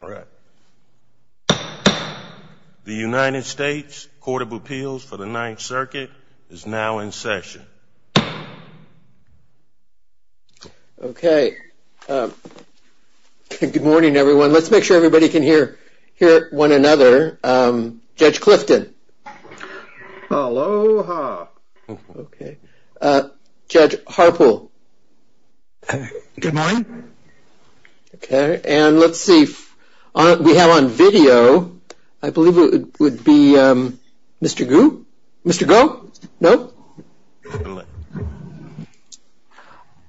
The United States Court of Appeals for the Ninth Circuit is now in session. Okay. Good morning, everyone. Let's make sure everybody can hear one another. Judge Clifton. Aloha. Okay. Judge Harpool. Good morning. Okay. And let's see. We have on video, I believe it would be Mr. Gu? Mr. Goh? No?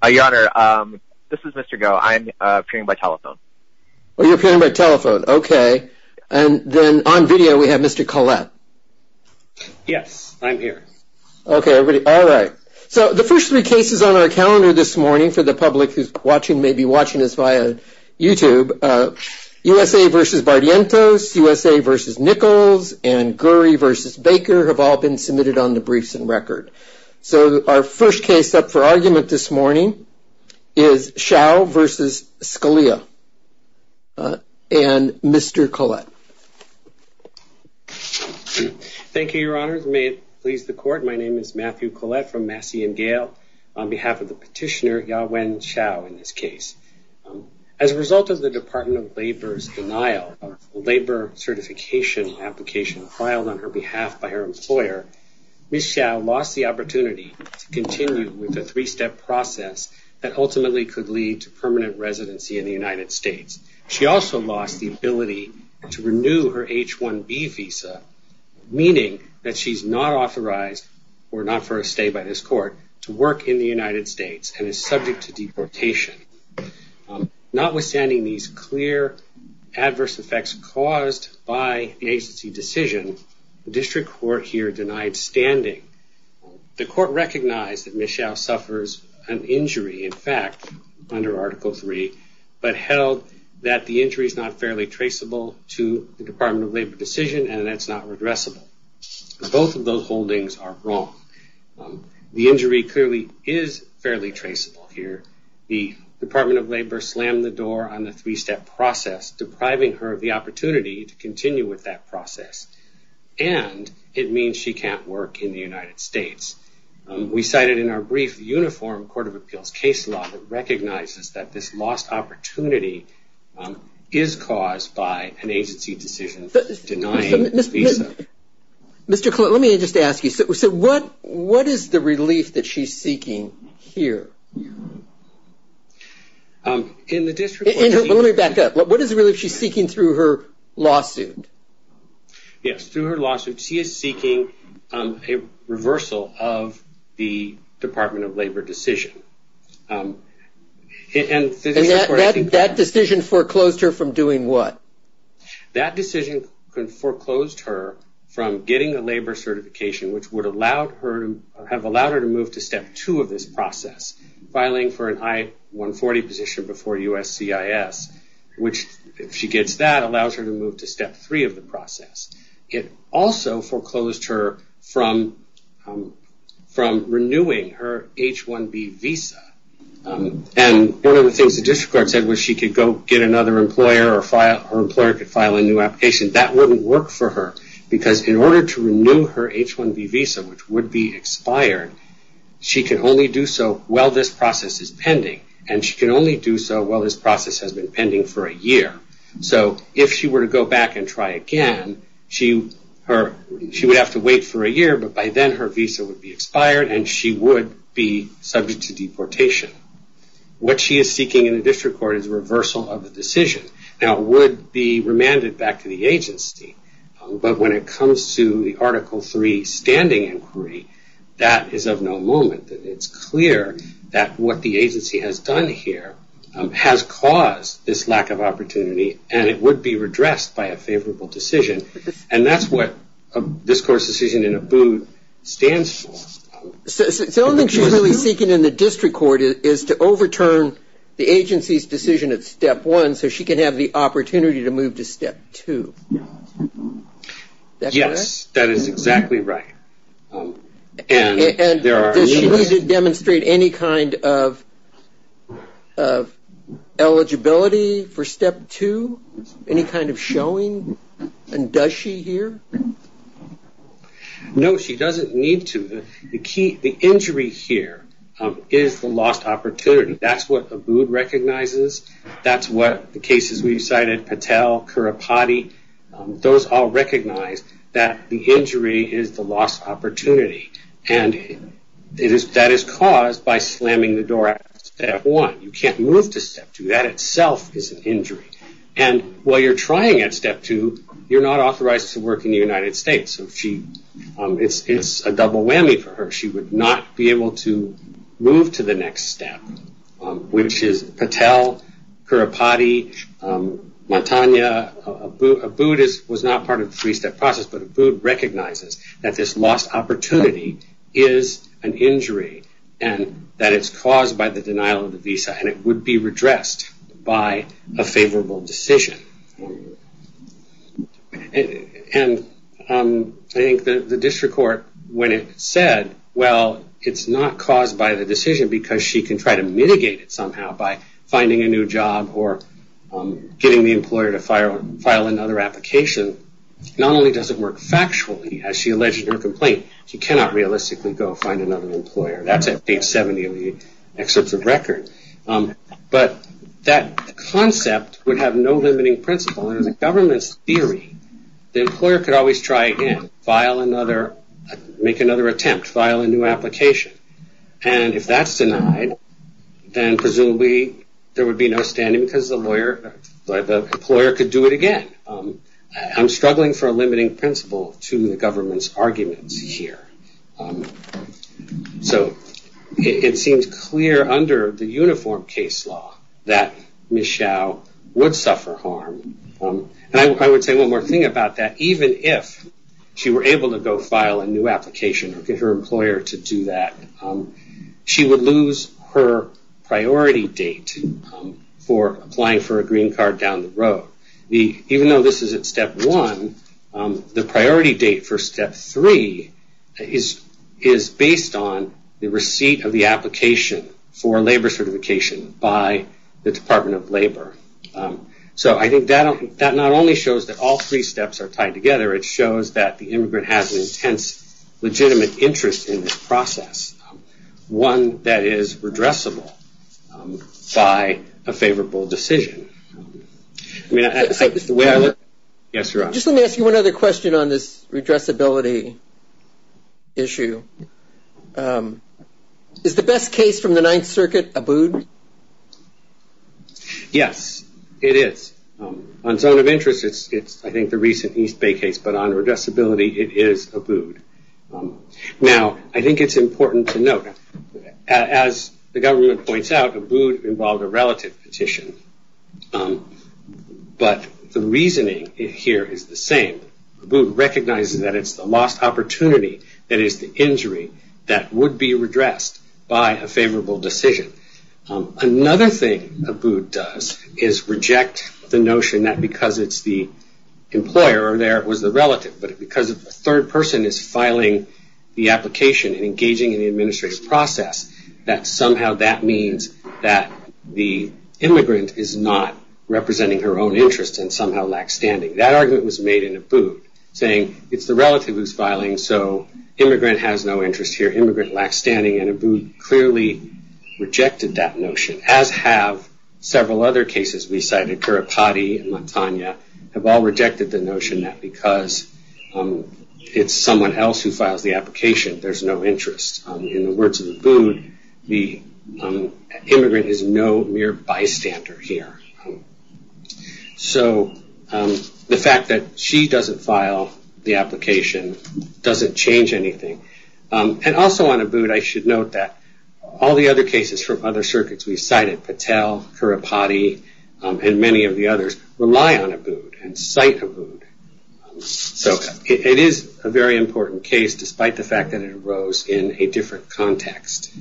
Your Honor, this is Mr. Goh. I am appearing by telephone. Oh, you're appearing by telephone. Okay. And then on video, we have Mr. Collette. Yes, I'm here. Okay. All right. So the first three cases on our calendar this morning for the public who may be watching this via YouTube, USA v. Bardientos, USA v. Nichols, and Gurry v. Baker have all been submitted on the briefs and record. So our first case up for argument this morning is Hsiao v. Scalia and Mr. Collette. Thank you, Your Honor. May it please the Court. My name is Matthew Collette from Massey and Gale on behalf of the petitioner, Ya-Wen Hsiao, in this case. As a result of the Department of Labor's denial of a labor certification application filed on her behalf by her employer, Ms. Hsiao lost the opportunity to continue with a three-step process that ultimately could lead to permanent residency in the United States. She also lost the ability to renew her H-1B visa, meaning that she's not authorized, or not for a stay by this court, to work in the United States and is subject to deportation. Notwithstanding these clear adverse effects caused by the agency decision, the district court here denied standing. The court recognized that Ms. Hsiao suffers an injury, in fact, under Article III, but held that the injury is not fairly traceable to the Department of Labor decision and that it's not redressable. Both of those holdings are wrong. The injury clearly is fairly traceable here. The Department of Labor slammed the door on the three-step process, depriving her of the opportunity to continue with that process. And it means she can't work in the United States. We cited in our brief the Uniform Court of Appeals case law that recognizes that this lost opportunity is caused by an agency decision denying a visa. Let me just ask you, so what is the relief that she's seeking here? Let me back up. What is the relief she's seeking through her lawsuit? Yes, through her lawsuit, she is seeking a reversal of the Department of Labor decision. And that decision foreclosed her from doing what? That decision foreclosed her from getting a labor certification, which would have allowed her to move to Step 2 of this process, filing for an I-140 position before USCIS, which, if she gets that, allows her to move to Step 3 of the process. It also foreclosed her from renewing her H-1B visa. And one of the things the district court said was she could go get another employer or her employer could file a new application. That wouldn't work for her, because in order to renew her H-1B visa, which would be expired, she can only do so while this process is pending. And she can only do so while this process has been pending for a year. So if she were to go back and try again, she would have to wait for a year, but by then her visa would be expired and she would be subject to deportation. What she is seeking in the district court is a reversal of the decision. Now, it would be remanded back to the agency, but when it comes to the Article 3 standing inquiry, that is of no moment. It's clear that what the agency has done here has caused this lack of opportunity, and it would be redressed by a favorable decision. And that's what this court's decision in Abood stands for. So the only thing she's really seeking in the district court is to overturn the agency's decision at Step 1, so she can have the opportunity to move to Step 2. Yes, that is exactly right. And does she need to demonstrate any kind of eligibility for Step 2, any kind of showing? And does she here? No, she doesn't need to. The injury here is the lost opportunity. That's what Abood recognizes. That's what the cases we've cited, Patel, Kurapati, those all recognize that the injury is the lost opportunity, and that is caused by slamming the door at Step 1. You can't move to Step 2. That itself is an injury. And while you're trying at Step 2, you're not authorized to work in the United States, so it's a double whammy for her. She would not be able to move to the next step, which is Patel, Kurapati, Matanya. Abood was not part of the three-step process, but Abood recognizes that this lost opportunity is an injury and that it's caused by the denial of the visa, and it would be redressed by a favorable decision. And I think the district court, when it said, well, it's not caused by the decision because she can try to mitigate it somehow by finding a new job or getting the employer to file another application, not only does it work factually, as she alleged in her complaint, she cannot realistically go find another employer. That's at page 70 of the excerpts of record. But that concept would have no limiting principle. Under the government's theory, the employer could always try again, make another attempt, file a new application. And if that's denied, then presumably there would be no standing because the employer could do it again. I'm struggling for a limiting principle to the government's arguments here. So it seems clear under the uniform case law that Michaud would suffer harm. And I would say one more thing about that. Even if she were able to go file a new application or get her employer to do that, she would lose her priority date for applying for a green card down the road. Even though this is at step one, the priority date for step three is based on the receipt of the application for labor certification by the Department of Labor. So I think that not only shows that all three steps are tied together, it shows that the immigrant has an intense legitimate interest in this process, one that is redressable by a favorable decision. Just let me ask you one other question on this redressability issue. Is the best case from the Ninth Circuit a boon? Yes, it is. On zone of interest, it's I think the recent East Bay case, but on redressability, it is a boon. Now, I think it's important to note, as the government points out, a boon involved a relative petition. But the reasoning here is the same. A boon recognizes that it's the lost opportunity that is the injury that would be redressed by a favorable decision. Another thing a boon does is reject the notion that because it's the employer over there, it was the relative, but because a third person is filing the application and engaging in the administrative process, that somehow that means that the immigrant is not representing her own interests and somehow lacks standing. That argument was made in a boon, saying it's the relative who's filing, so immigrant has no interest here, immigrant lacks standing, and a boon clearly rejected that notion, as have several other cases we cited. Kiripati and Mantanya have all rejected the notion that because it's someone else who files the application, there's no interest. In the words of a boon, the immigrant is no mere bystander here. So the fact that she doesn't file the application doesn't change anything. And also on a boon, I should note that all the other cases from other circuits we cited, Patel, Kiripati, and many of the others, rely on a boon and cite a boon. So it is a very important case, despite the fact that it arose in a different context.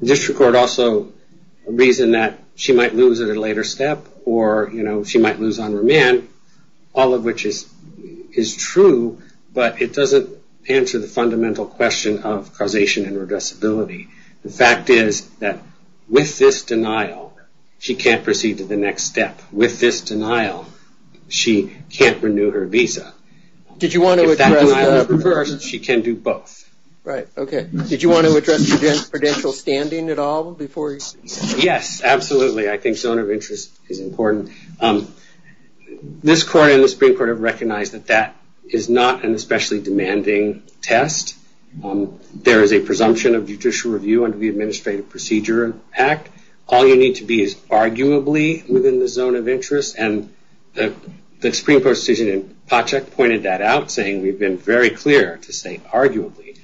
The district court also reasoned that she might lose at a later step or she might lose on remand, all of which is true, but it doesn't answer the fundamental question of causation and redressability. The fact is that with this denial, she can't proceed to the next step. With this denial, she can't renew her visa. If that denial is reversed, she can do both. Right, okay. Did you want to address the credential standing at all? Yes, absolutely. I think zone of interest is important. This court and the Supreme Court have recognized that that is not an especially demanding test. There is a presumption of judicial review under the Administrative Procedure Act. All you need to be is arguably within the zone of interest, and the Supreme Court decision in Pacek pointed that out, saying we've been very clear to say arguably.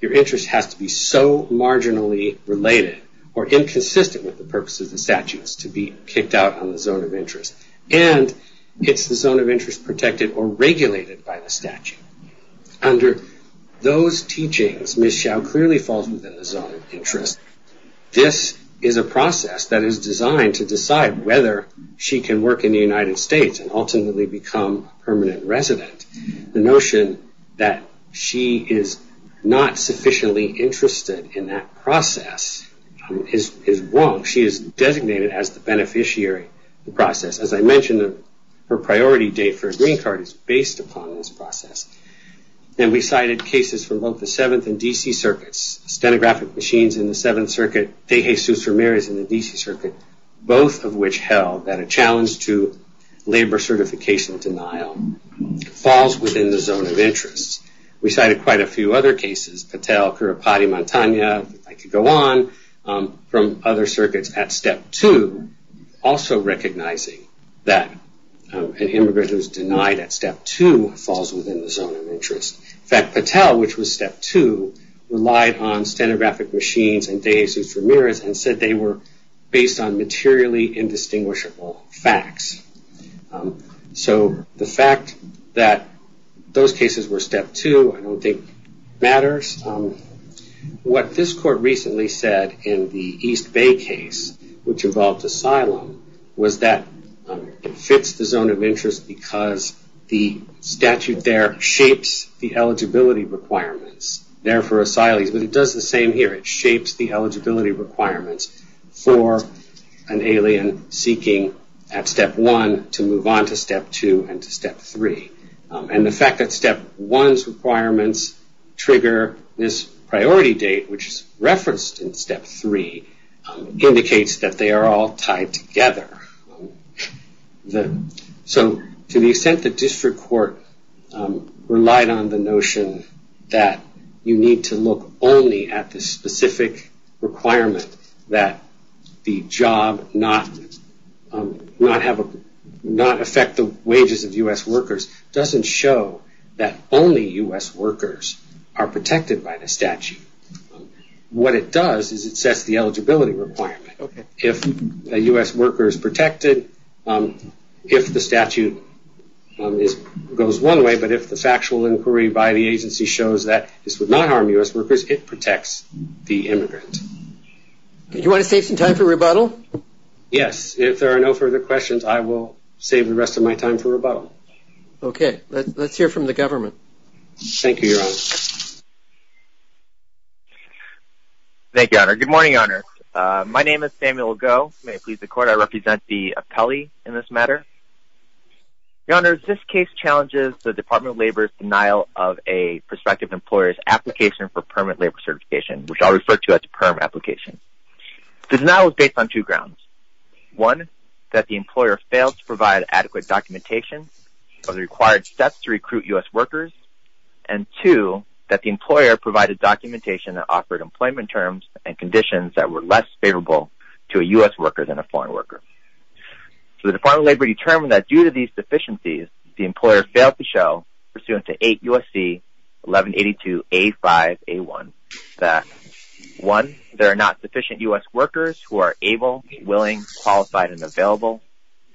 Your interest has to be so marginally related or inconsistent with the purpose of the statute as to be kicked out on the zone of interest. And it's the zone of interest protected or regulated by the statute. Under those teachings, Ms. Xiao clearly falls within the zone of interest. This is a process that is designed to decide whether she can work in the United States and ultimately become a permanent resident. The notion that she is not sufficiently interested in that process is wrong. She is designated as the beneficiary of the process. As I mentioned, her priority date for a green card is based upon this process. And we cited cases for both the Seventh and D.C. Circuits, stenographic machines in the Seventh Circuit, Tejesus Ramirez in the D.C. Circuit, both of which held that a challenge to labor certification denial falls within the zone of interest. We cited quite a few other cases, Patel, Currapati, Montagna, if I could go on, from other circuits at Step 2, also recognizing that an immigrant who is denied at Step 2 falls within the zone of interest. In fact, Patel, which was Step 2, relied on stenographic machines and Tejesus Ramirez and said they were based on materially indistinguishable facts. So the fact that those cases were Step 2 I don't think matters. What this court recently said in the East Bay case, which involved asylum, was that it fits the zone of interest because the statute there shapes the eligibility requirements there for asylees. But it does the same here. It shapes the eligibility requirements for an alien seeking at Step 1 to move on to Step 2 and to Step 3. And the fact that Step 1's requirements trigger this priority date, which is referenced in Step 3, indicates that they are all tied together. So to the extent that district court relied on the notion that you need to look only at the specific requirement that the job not affect the wages of U.S. workers doesn't show that only U.S. workers are protected by the statute. What it does is it sets the eligibility requirement. If a U.S. worker is protected, if the statute goes one way, but if the factual inquiry by the agency shows that this would not harm U.S. workers, it protects the immigrant. Do you want to save some time for rebuttal? Yes. If there are no further questions, I will save the rest of my time for rebuttal. Okay. Let's hear from the government. Thank you, Your Honor. Thank you, Your Honor. Good morning, Your Honor. My name is Samuel Goh. May it please the Court, I represent the appellee in this matter. Your Honor, this case challenges the Department of Labor's denial of a prospective employer's application for permanent labor certification, which I'll refer to as a permanent application. The denial is based on two grounds. One, that the employer failed to provide adequate documentation of the required steps to recruit U.S. workers. And two, that the employer provided documentation that offered employment terms and conditions that were less favorable to a U.S. worker than a foreign worker. So the Department of Labor determined that due to these deficiencies, the employer failed to show pursuant to 8 U.S.C. 1182A5A1 that, one, there are not sufficient U.S. workers who are able, willing, qualified, and available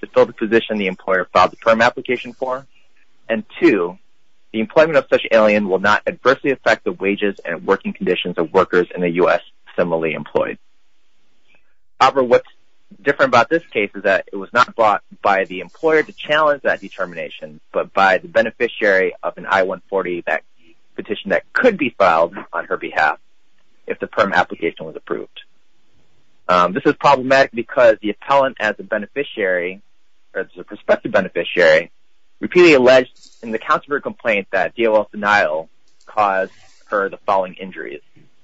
to fill the position the employer filed the perm application for. And two, the employment of such an alien will not adversely affect the wages and working conditions of workers in the U.S. similarly employed. However, what's different about this case is that it was not brought by the employer to challenge that determination, but by the beneficiary of an I-140 petition that could be filed on her behalf if the perm application was approved. This is problematic because the appellant as a beneficiary, as a prospective beneficiary, repeatedly alleged in the counselor complaint that DOL's denial caused her the following injuries.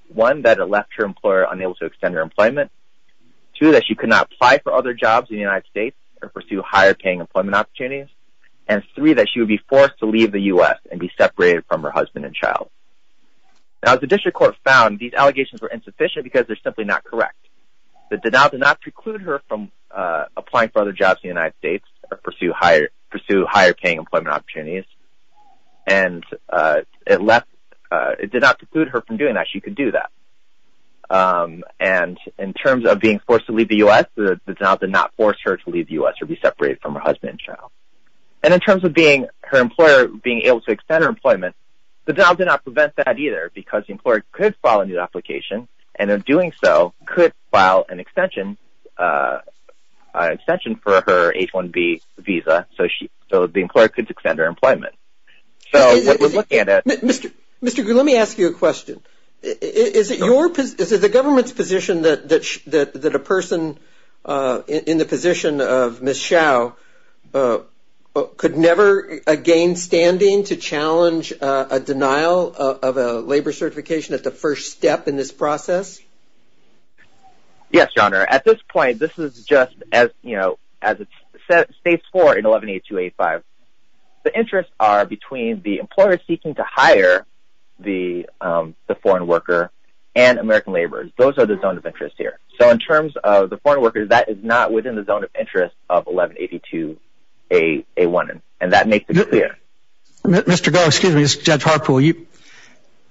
One, that it left her employer unable to extend her employment. Two, that she could not apply for other jobs in the United States or pursue higher-paying employment opportunities. And three, that she would be forced to leave the U.S. and be separated from her husband and child. Now, as the district court found, these allegations were insufficient because they're simply not correct. The denial did not preclude her from applying for other jobs in the United States or pursue higher-paying employment opportunities, and it did not preclude her from doing that. She could do that. And in terms of being forced to leave the U.S., the denial did not force her to leave the U.S. or be separated from her husband and child. And in terms of her employer being able to extend her employment, the denial did not prevent that either because the employer could file a new application, and in doing so, could file an extension for her H-1B visa, so the employer could extend her employment. Mr. Gu, let me ask you a question. Is it the government's position that a person in the position of Ms. Hsiao could never gain standing to challenge a denial of a labor certification at the first step in this process? Yes, Your Honor. At this point, this is just as it states for in 11-8285. The interests are between the employer seeking to hire the foreign worker and American laborers. Those are the zones of interest here. So in terms of the foreign worker, that is not within the zone of interest of 11-8281, and that makes it clear. Mr. Gu, excuse me, this is Judge Harpool.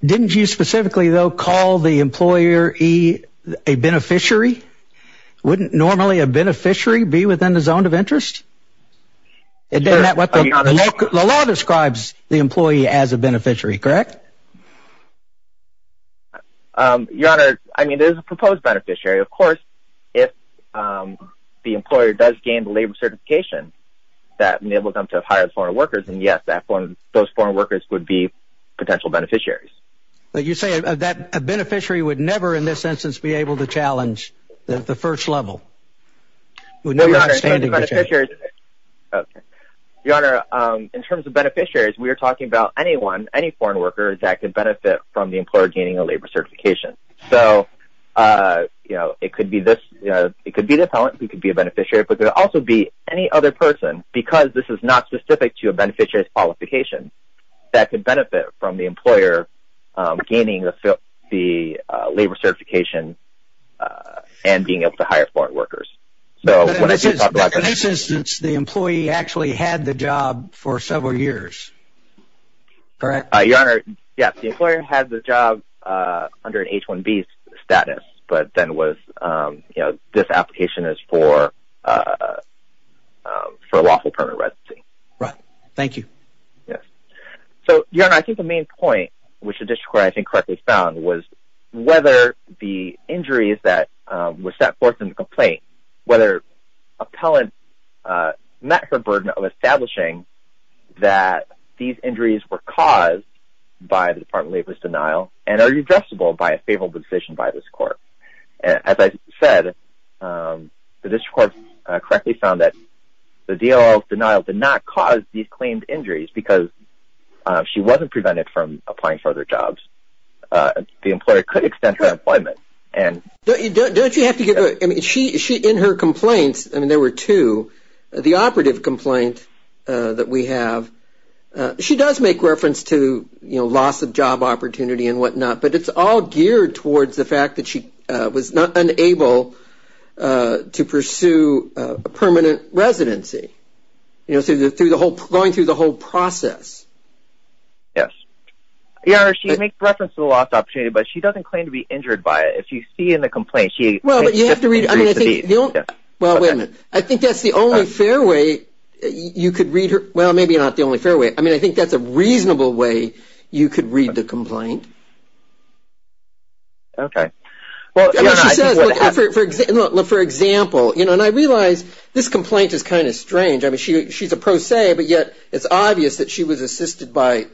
Didn't you specifically, though, call the employer a beneficiary? Wouldn't normally a beneficiary be within the zone of interest? The law describes the employee as a beneficiary, correct? Your Honor, I mean, there's a proposed beneficiary. Of course, if the employer does gain the labor certification, that enables them to hire foreign workers, and yes, those foreign workers would be potential beneficiaries. But you say that a beneficiary would never, in this instance, be able to challenge at the first level? Your Honor, in terms of beneficiaries, we are talking about anyone, any foreign worker, that could benefit from the employer gaining a labor certification. So, you know, it could be this, you know, it could be the appellant who could be a beneficiary, but there could also be any other person, because this is not specific to a beneficiary's qualification, that could benefit from the employer gaining the labor certification and being able to hire foreign workers. But in this instance, the employee actually had the job for several years, correct? Your Honor, yes, the employer had the job under an H-1B status, but then was, you know, this application is for lawful permanent residency. Right, thank you. Yes. So, Your Honor, I think the main point, which the district court, I think, correctly found, was whether the injuries that were set forth in the complaint, whether appellant met her burden of establishing that these injuries were caused by the Department of Labor's denial and are redressable by a favorable decision by this court. As I said, the district court correctly found that the DOL's denial did not cause these claimed injuries, because she wasn't prevented from applying for other jobs. The employer could extend her employment. Don't you have to get, I mean, in her complaints, and there were two, the operative complaint that we have, she does make reference to, you know, loss of job opportunity and whatnot, but it's all geared towards the fact that she was unable to pursue a permanent residency. You know, going through the whole process. Yes. Your Honor, she makes reference to the loss of opportunity, but she doesn't claim to be injured by it. If you see in the complaint, she makes 50% of these. Well, wait a minute. I think that's the only fair way you could read her, well, maybe not the only fair way. I mean, I think that's a reasonable way you could read the complaint. Okay. I mean, she says, for example, you know, and I realize this complaint is kind of strange. I mean, she's a pro se, but yet it's obvious that she was assisted by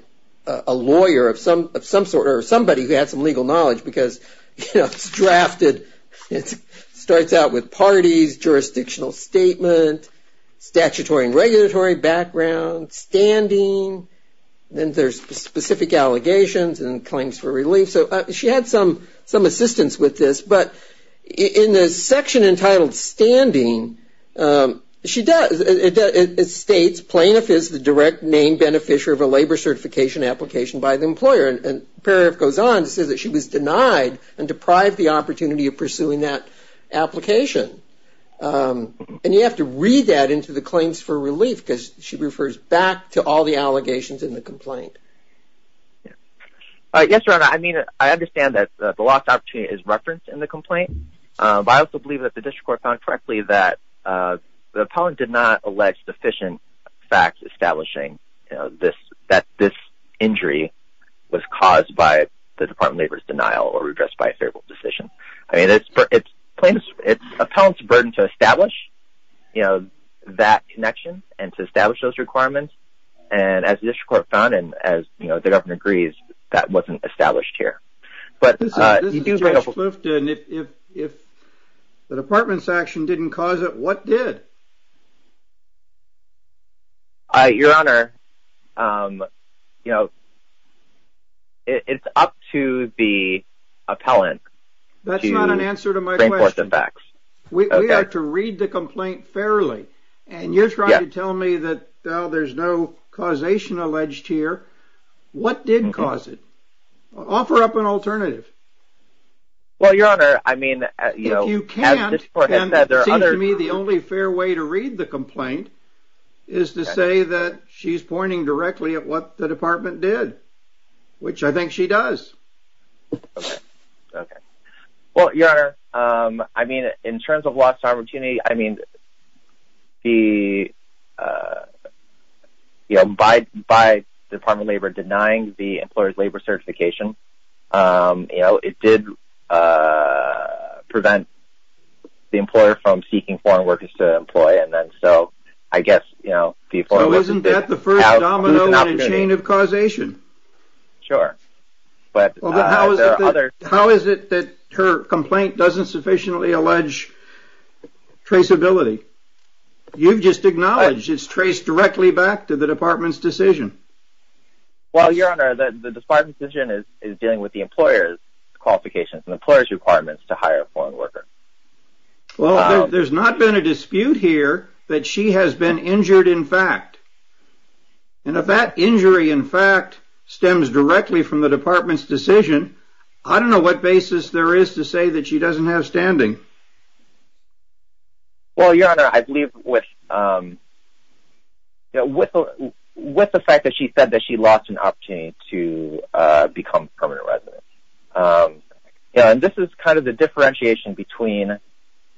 a lawyer of some sort, or somebody who had some legal knowledge, because, you know, it's drafted. It starts out with parties, jurisdictional statement, statutory and regulatory background, standing. Then there's specific allegations and claims for relief. So she had some assistance with this, but in the section entitled standing, it states, plaintiff is the direct name beneficiary of a labor certification application by the employer. And it goes on to say that she was denied and deprived the opportunity of pursuing that application. And you have to read that into the claims for relief, because she refers back to all the allegations in the complaint. Yes, Your Honor, I mean, I understand that the lost opportunity is referenced in the complaint. But I also believe that the district court found correctly that the appellant did not allege sufficient facts establishing, you know, that this injury was caused by the Department of Labor's denial or redress by a favorable decision. I mean, it's plaintiff's, it's appellant's burden to establish, you know, that connection and to establish those requirements. And as the district court found and as the governor agrees, that wasn't established here. But if the department's action didn't cause it, what did? Your Honor, you know, it's up to the appellant. That's not an answer to my question. We have to read the complaint fairly. And you're trying to tell me that there's no causation alleged here. What did cause it? Offer up an alternative. Well, Your Honor, I mean, you can't. To me, the only fair way to read the complaint is to say that she's pointing directly at what the department did, which I think she does. Okay. Well, Your Honor, I mean, in terms of lost opportunity, I mean, the, you know, by the Department of Labor denying the employer's labor certification, you know, it did prevent the employer from seeking foreign workers to employ. And then, so, I guess, you know, So isn't that the first domino in a chain of causation? Sure. How is it that her complaint doesn't sufficiently allege traceability? You've just acknowledged it's traced directly back to the department's decision. Well, Your Honor, the department's decision is dealing with the employer's qualifications and employer's requirements to hire a foreign worker. Well, there's not been a dispute here that she has been injured in fact. And if that injury in fact stems directly from the department's decision, I don't know what basis there is to say that she doesn't have standing. Well, Your Honor, I believe with, you know, with the fact that she said that she lost an opportunity to become a permanent resident. And this is kind of the differentiation between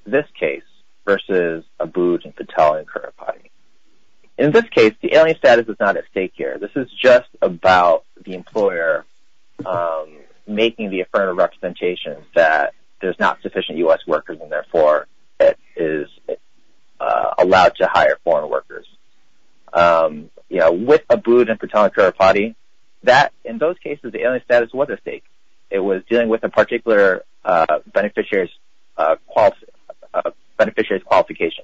this case versus Abood and Patel in current potting. In this case, the alien status is not at stake here. This is just about the employer making the affirmative representation that there's not sufficient U.S. workers and therefore it is allowed to hire foreign workers. You know, with Abood and Patel in current potting, that, in those cases, the alien status was at stake. It was dealing with a particular beneficiary's qualification.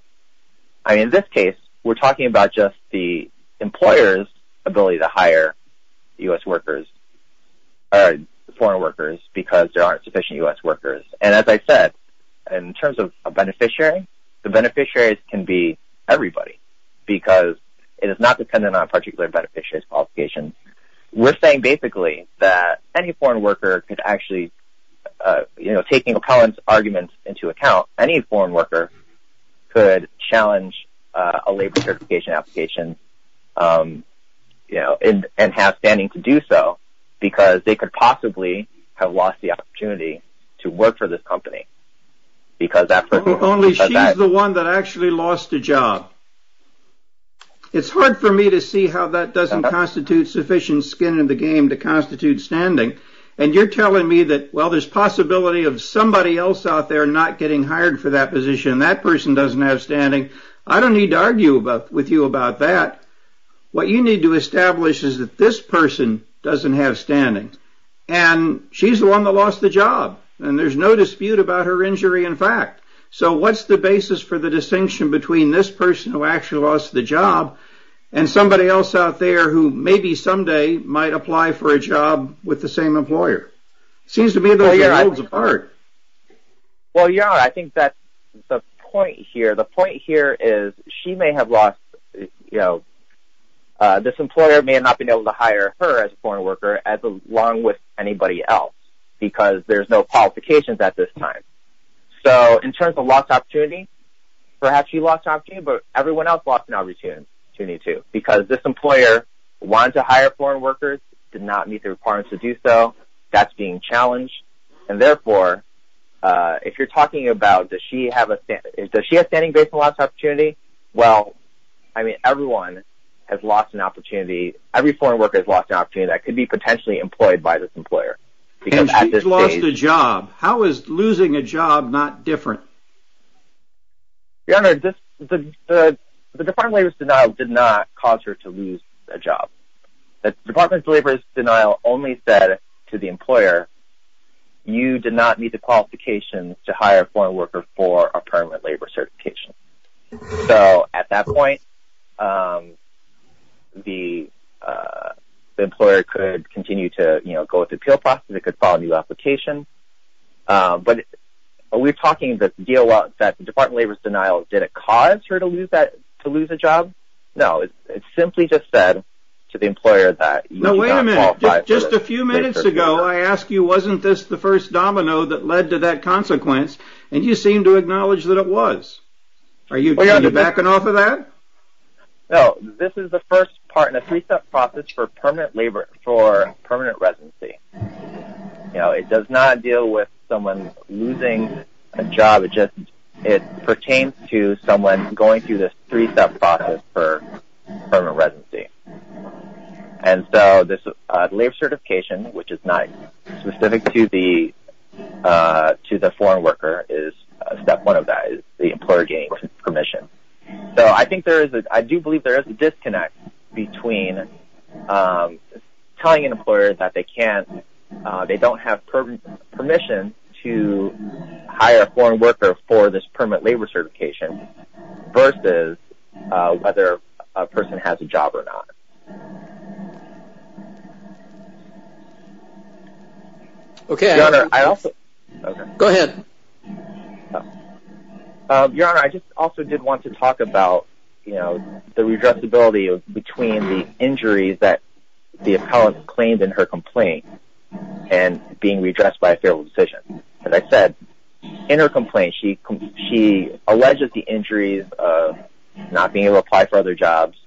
I mean, in this case, we're talking about just the employer's ability to hire U.S. workers or foreign workers because there aren't sufficient U.S. workers. And as I said, in terms of a beneficiary, the beneficiaries can be everybody because it is not dependent on a particular beneficiary's qualification. We're saying, basically, that any foreign worker could actually, you know, taking opponents' arguments into account, any foreign worker could challenge a labor certification application and have standing to do so because they could possibly have lost the opportunity to work for this company. Only she's the one that actually lost a job. It's hard for me to see how that doesn't constitute sufficient skin in the game to constitute standing. And you're telling me that, well, there's possibility of somebody else out there not getting hired for that position. That person doesn't have standing. I don't need to argue with you about that. What you need to establish is that this person doesn't have standing and she's the one that lost the job. And there's no dispute about her injury, in fact. So what's the basis for the distinction between this person who actually lost the job and somebody else out there who maybe someday might apply for a job with the same employer? It seems to me those are worlds apart. Well, Your Honor, I think that the point here, the point here is she may have lost, you know, this employer may not have been able to hire her as a foreign worker along with anybody else because there's no qualifications at this time. So in terms of lost opportunity, perhaps she lost opportunity, but everyone else lost an opportunity, too. Because this employer wanted to hire foreign workers, did not meet the requirements to do so. That's being challenged. And, therefore, if you're talking about does she have standing based on lost opportunity, well, I mean, everyone has lost an opportunity. Every foreign worker has lost an opportunity that could be potentially employed by this employer. And she's lost a job. How is losing a job not different? Your Honor, the Department of Labor's denial did not cause her to lose a job. The Department of Labor's denial only said to the employer, you did not meet the qualifications to hire a foreign worker for a permanent labor certification. So at that point, the employer could continue to, you know, go with the appeal process. It could file a new application. But we're talking that the Department of Labor's denial didn't cause her to lose a job. No, it simply just said to the employer that you did not qualify for this. Now, wait a minute. Just a few minutes ago, I asked you wasn't this the first domino that led to that consequence, and you seemed to acknowledge that it was. Are you backing off of that? No. This is the first part in a three-step process for permanent residency. You know, it does not deal with someone losing a job. It pertains to someone going through this three-step process for permanent residency. And so this labor certification, which is not specific to the foreign worker, is step one of that is the employer getting permission. So I do believe there is a disconnect between telling an employer that they can't, they don't have permission to hire a foreign worker for this permanent labor certification versus whether a person has a job or not. Okay. Go ahead. Your Honor, I just also did want to talk about, you know, the redressability between the injuries that the appellant claimed in her complaint and being redressed by a favorable decision. As I said, in her complaint she alleges the injuries of not being able to apply for other jobs,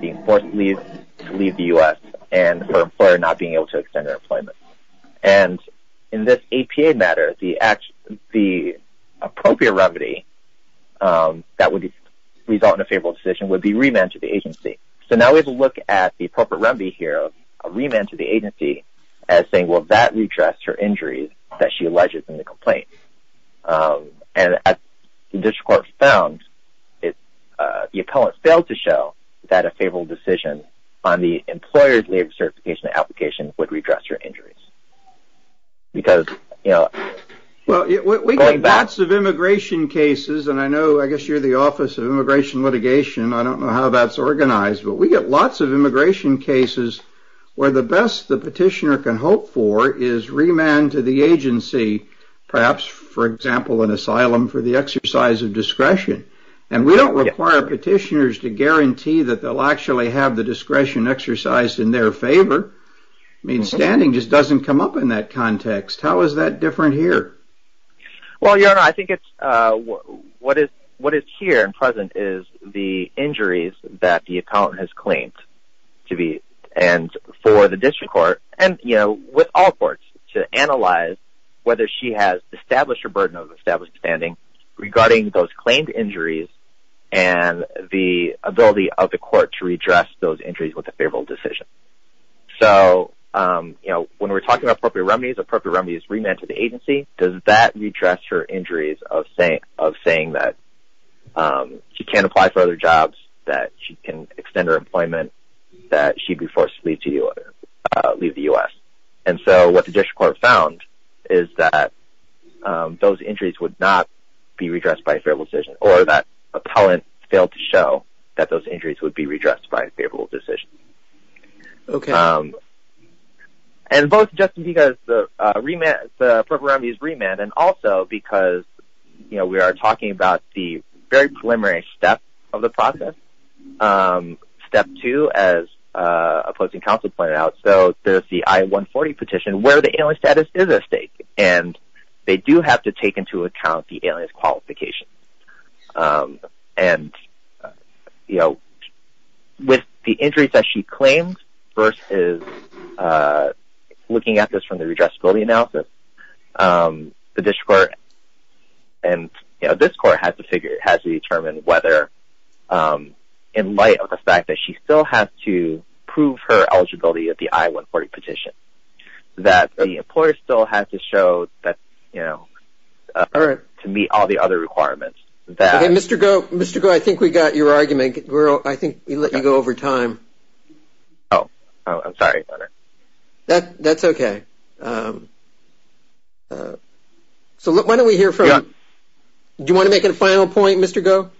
being forced to leave the U.S., and her employer not being able to extend her employment. And in this APA matter, the appropriate remedy that would result in a favorable decision would be remand to the agency. So now we have a look at the appropriate remedy here, a remand to the agency, as saying, well, that redressed her injuries that she alleges in the complaint. And as the district court found, the appellant failed to show that a favorable decision on the employer's labor certification application would redress her injuries. Because, you know, going back... Well, we get lots of immigration cases, and I know I guess you're the Office of Immigration Litigation. I don't know how that's organized. But we get lots of immigration cases where the best the petitioner can hope for is remand to the agency, perhaps, for example, an asylum for the exercise of discretion. And we don't require petitioners to guarantee that they'll actually have the discretion exercised in their favor. I mean, standing just doesn't come up in that context. How is that different here? Well, your Honor, I think it's... What is here and present is the injuries that the appellant has claimed to be, and for the district court, and, you know, with all courts, to analyze whether she has established her burden of established standing regarding those claimed injuries and the ability of the court to redress those injuries with a favorable decision. So, you know, when we're talking about appropriate remedies, appropriate remedies remand to the agency, does that redress her injuries of saying that she can't apply for other jobs, that she can extend her employment, that she'd be forced to leave the U.S.? And so what the district court found is that those injuries would not be redressed by a favorable decision, or that appellant failed to show that those injuries would be redressed by a favorable decision. Okay. And both just because the appropriate remedies remand, and also because, you know, we are talking about the very preliminary step of the process, step two, as opposing counsel pointed out, so there's the I-140 petition where the alias status is at stake, and they do have to take into account the alias qualification. And, you know, with the injuries that she claims versus looking at this from the redressability analysis, the district court and, you know, this court has to determine whether, in light of the fact that she still has to prove her eligibility at the I-140 petition, that the employer still has to show that, you know, to meet all the other requirements. Okay, Mr. Goh, Mr. Goh, I think we got your argument. I think we let you go over time. Oh, I'm sorry, Your Honor. That's okay. So why don't we hear from, do you want to make a final point, Mr. Goh?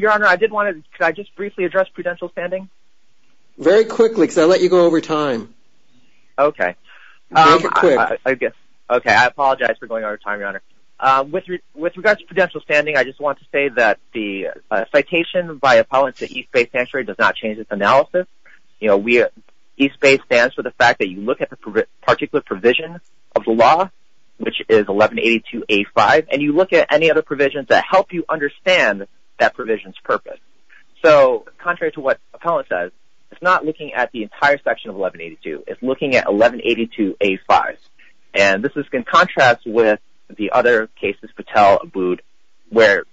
Your Honor, I did want to, could I just briefly address prudential standing? Very quickly, because I let you go over time. Okay. Make it quick. Okay, I apologize for going over time, Your Honor. With regards to prudential standing, I just want to say that the citation by appellants at East Bay Sanctuary does not change its analysis. You know, East Bay stands for the fact that you look at the particular provision of the law, which is 1182A5, and you look at any other provisions that help you understand that provision's purpose. So contrary to what appellant says, it's not looking at the entire section of 1182. It's looking at 1182A5. And this is in contrast with the other cases, Patel, Abood, where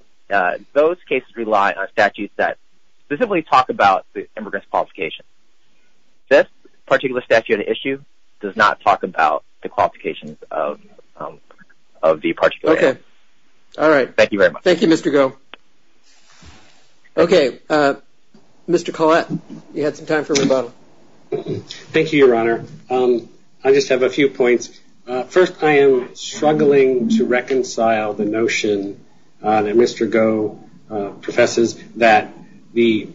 those cases rely on statutes that specifically talk about the immigrant's qualifications. This particular statute at issue does not talk about the qualifications of the particular. Okay. All right. Thank you very much. Thank you, Mr. Goh. Okay. Mr. Collette, you had some time for rebuttal. Thank you, Your Honor. I just have a few points. First, I am struggling to reconcile the notion that Mr. Goh professes that this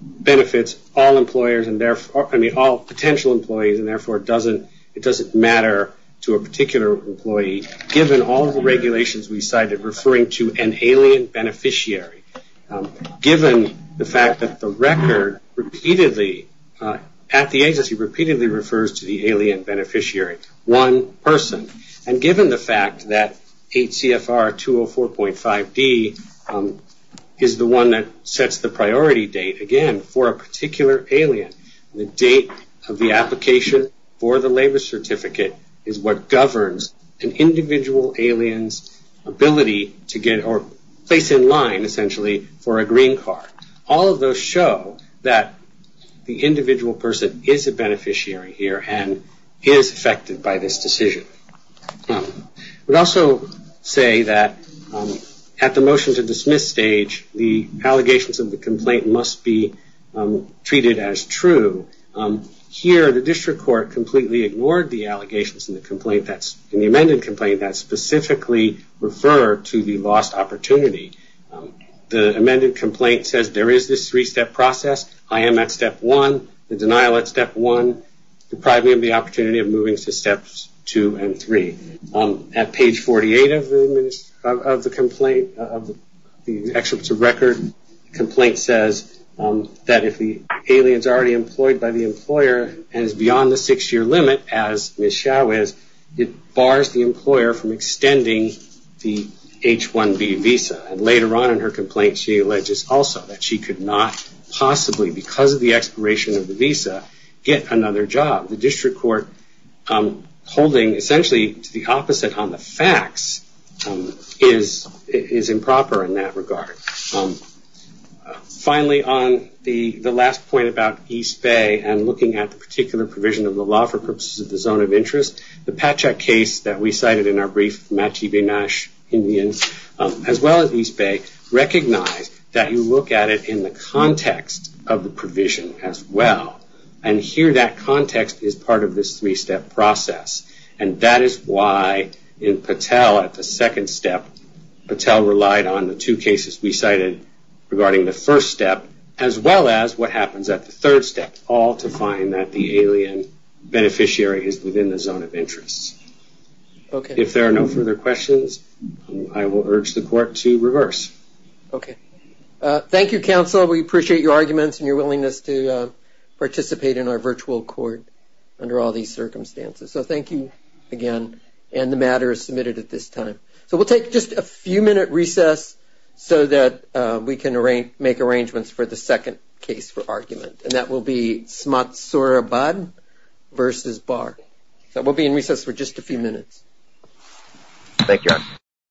benefits all potential employees, and therefore it doesn't matter to a particular employee, given all the regulations we cited referring to an alien beneficiary, given the fact that the record repeatedly, at the agency, repeatedly refers to the alien beneficiary, one person, and given the fact that HCFR 204.5D is the one that sets the priority date, again, for a particular alien, the date of the application for the labor certificate is what governs an individual alien's ability to get, or place in line, essentially, for a green card. All of those show that the individual person is a beneficiary here and is affected by this decision. I would also say that at the motion to dismiss stage, the allegations of the complaint must be treated as true. Here, the district court completely ignored the allegations in the amended complaint that specifically refer to the lost opportunity. The amended complaint says there is this three-step process. I am at step one, the denial at step one, deprived me of the opportunity of moving to steps two and three. At page 48 of the complaint, of the excerpts of record, the complaint says that if the alien is already employed by the employer and is beyond the six-year limit, as Ms. Chau is, it bars the employer from extending the H-1B visa. And later on in her complaint, she alleges also that she could not possibly, because of the expiration of the visa, get another job. The district court, holding essentially to the opposite on the facts, is improper in that regard. Finally, on the last point about East Bay and looking at the particular provision of the law for purposes of the zone of interest, the Patchak case that we cited in our brief, Machi Benash Indians, as well as East Bay, recognize that you look at it in the context of the provision as well. And here that context is part of this three-step process. And that is why in Patel at the second step, Patel relied on the two cases we cited regarding the first step, as well as what happens at the third step, all to find that the alien beneficiary is within the zone of interest. If there are no further questions, I will urge the court to reverse. Thank you, counsel. We appreciate your arguments and your willingness to participate in our virtual court under all these circumstances. So thank you again. And the matter is submitted at this time. So we'll take just a few-minute recess so that we can make arrangements for the second case for argument, and that will be Smotsurabad versus Barr. So we'll be in recess for just a few minutes. Thank you.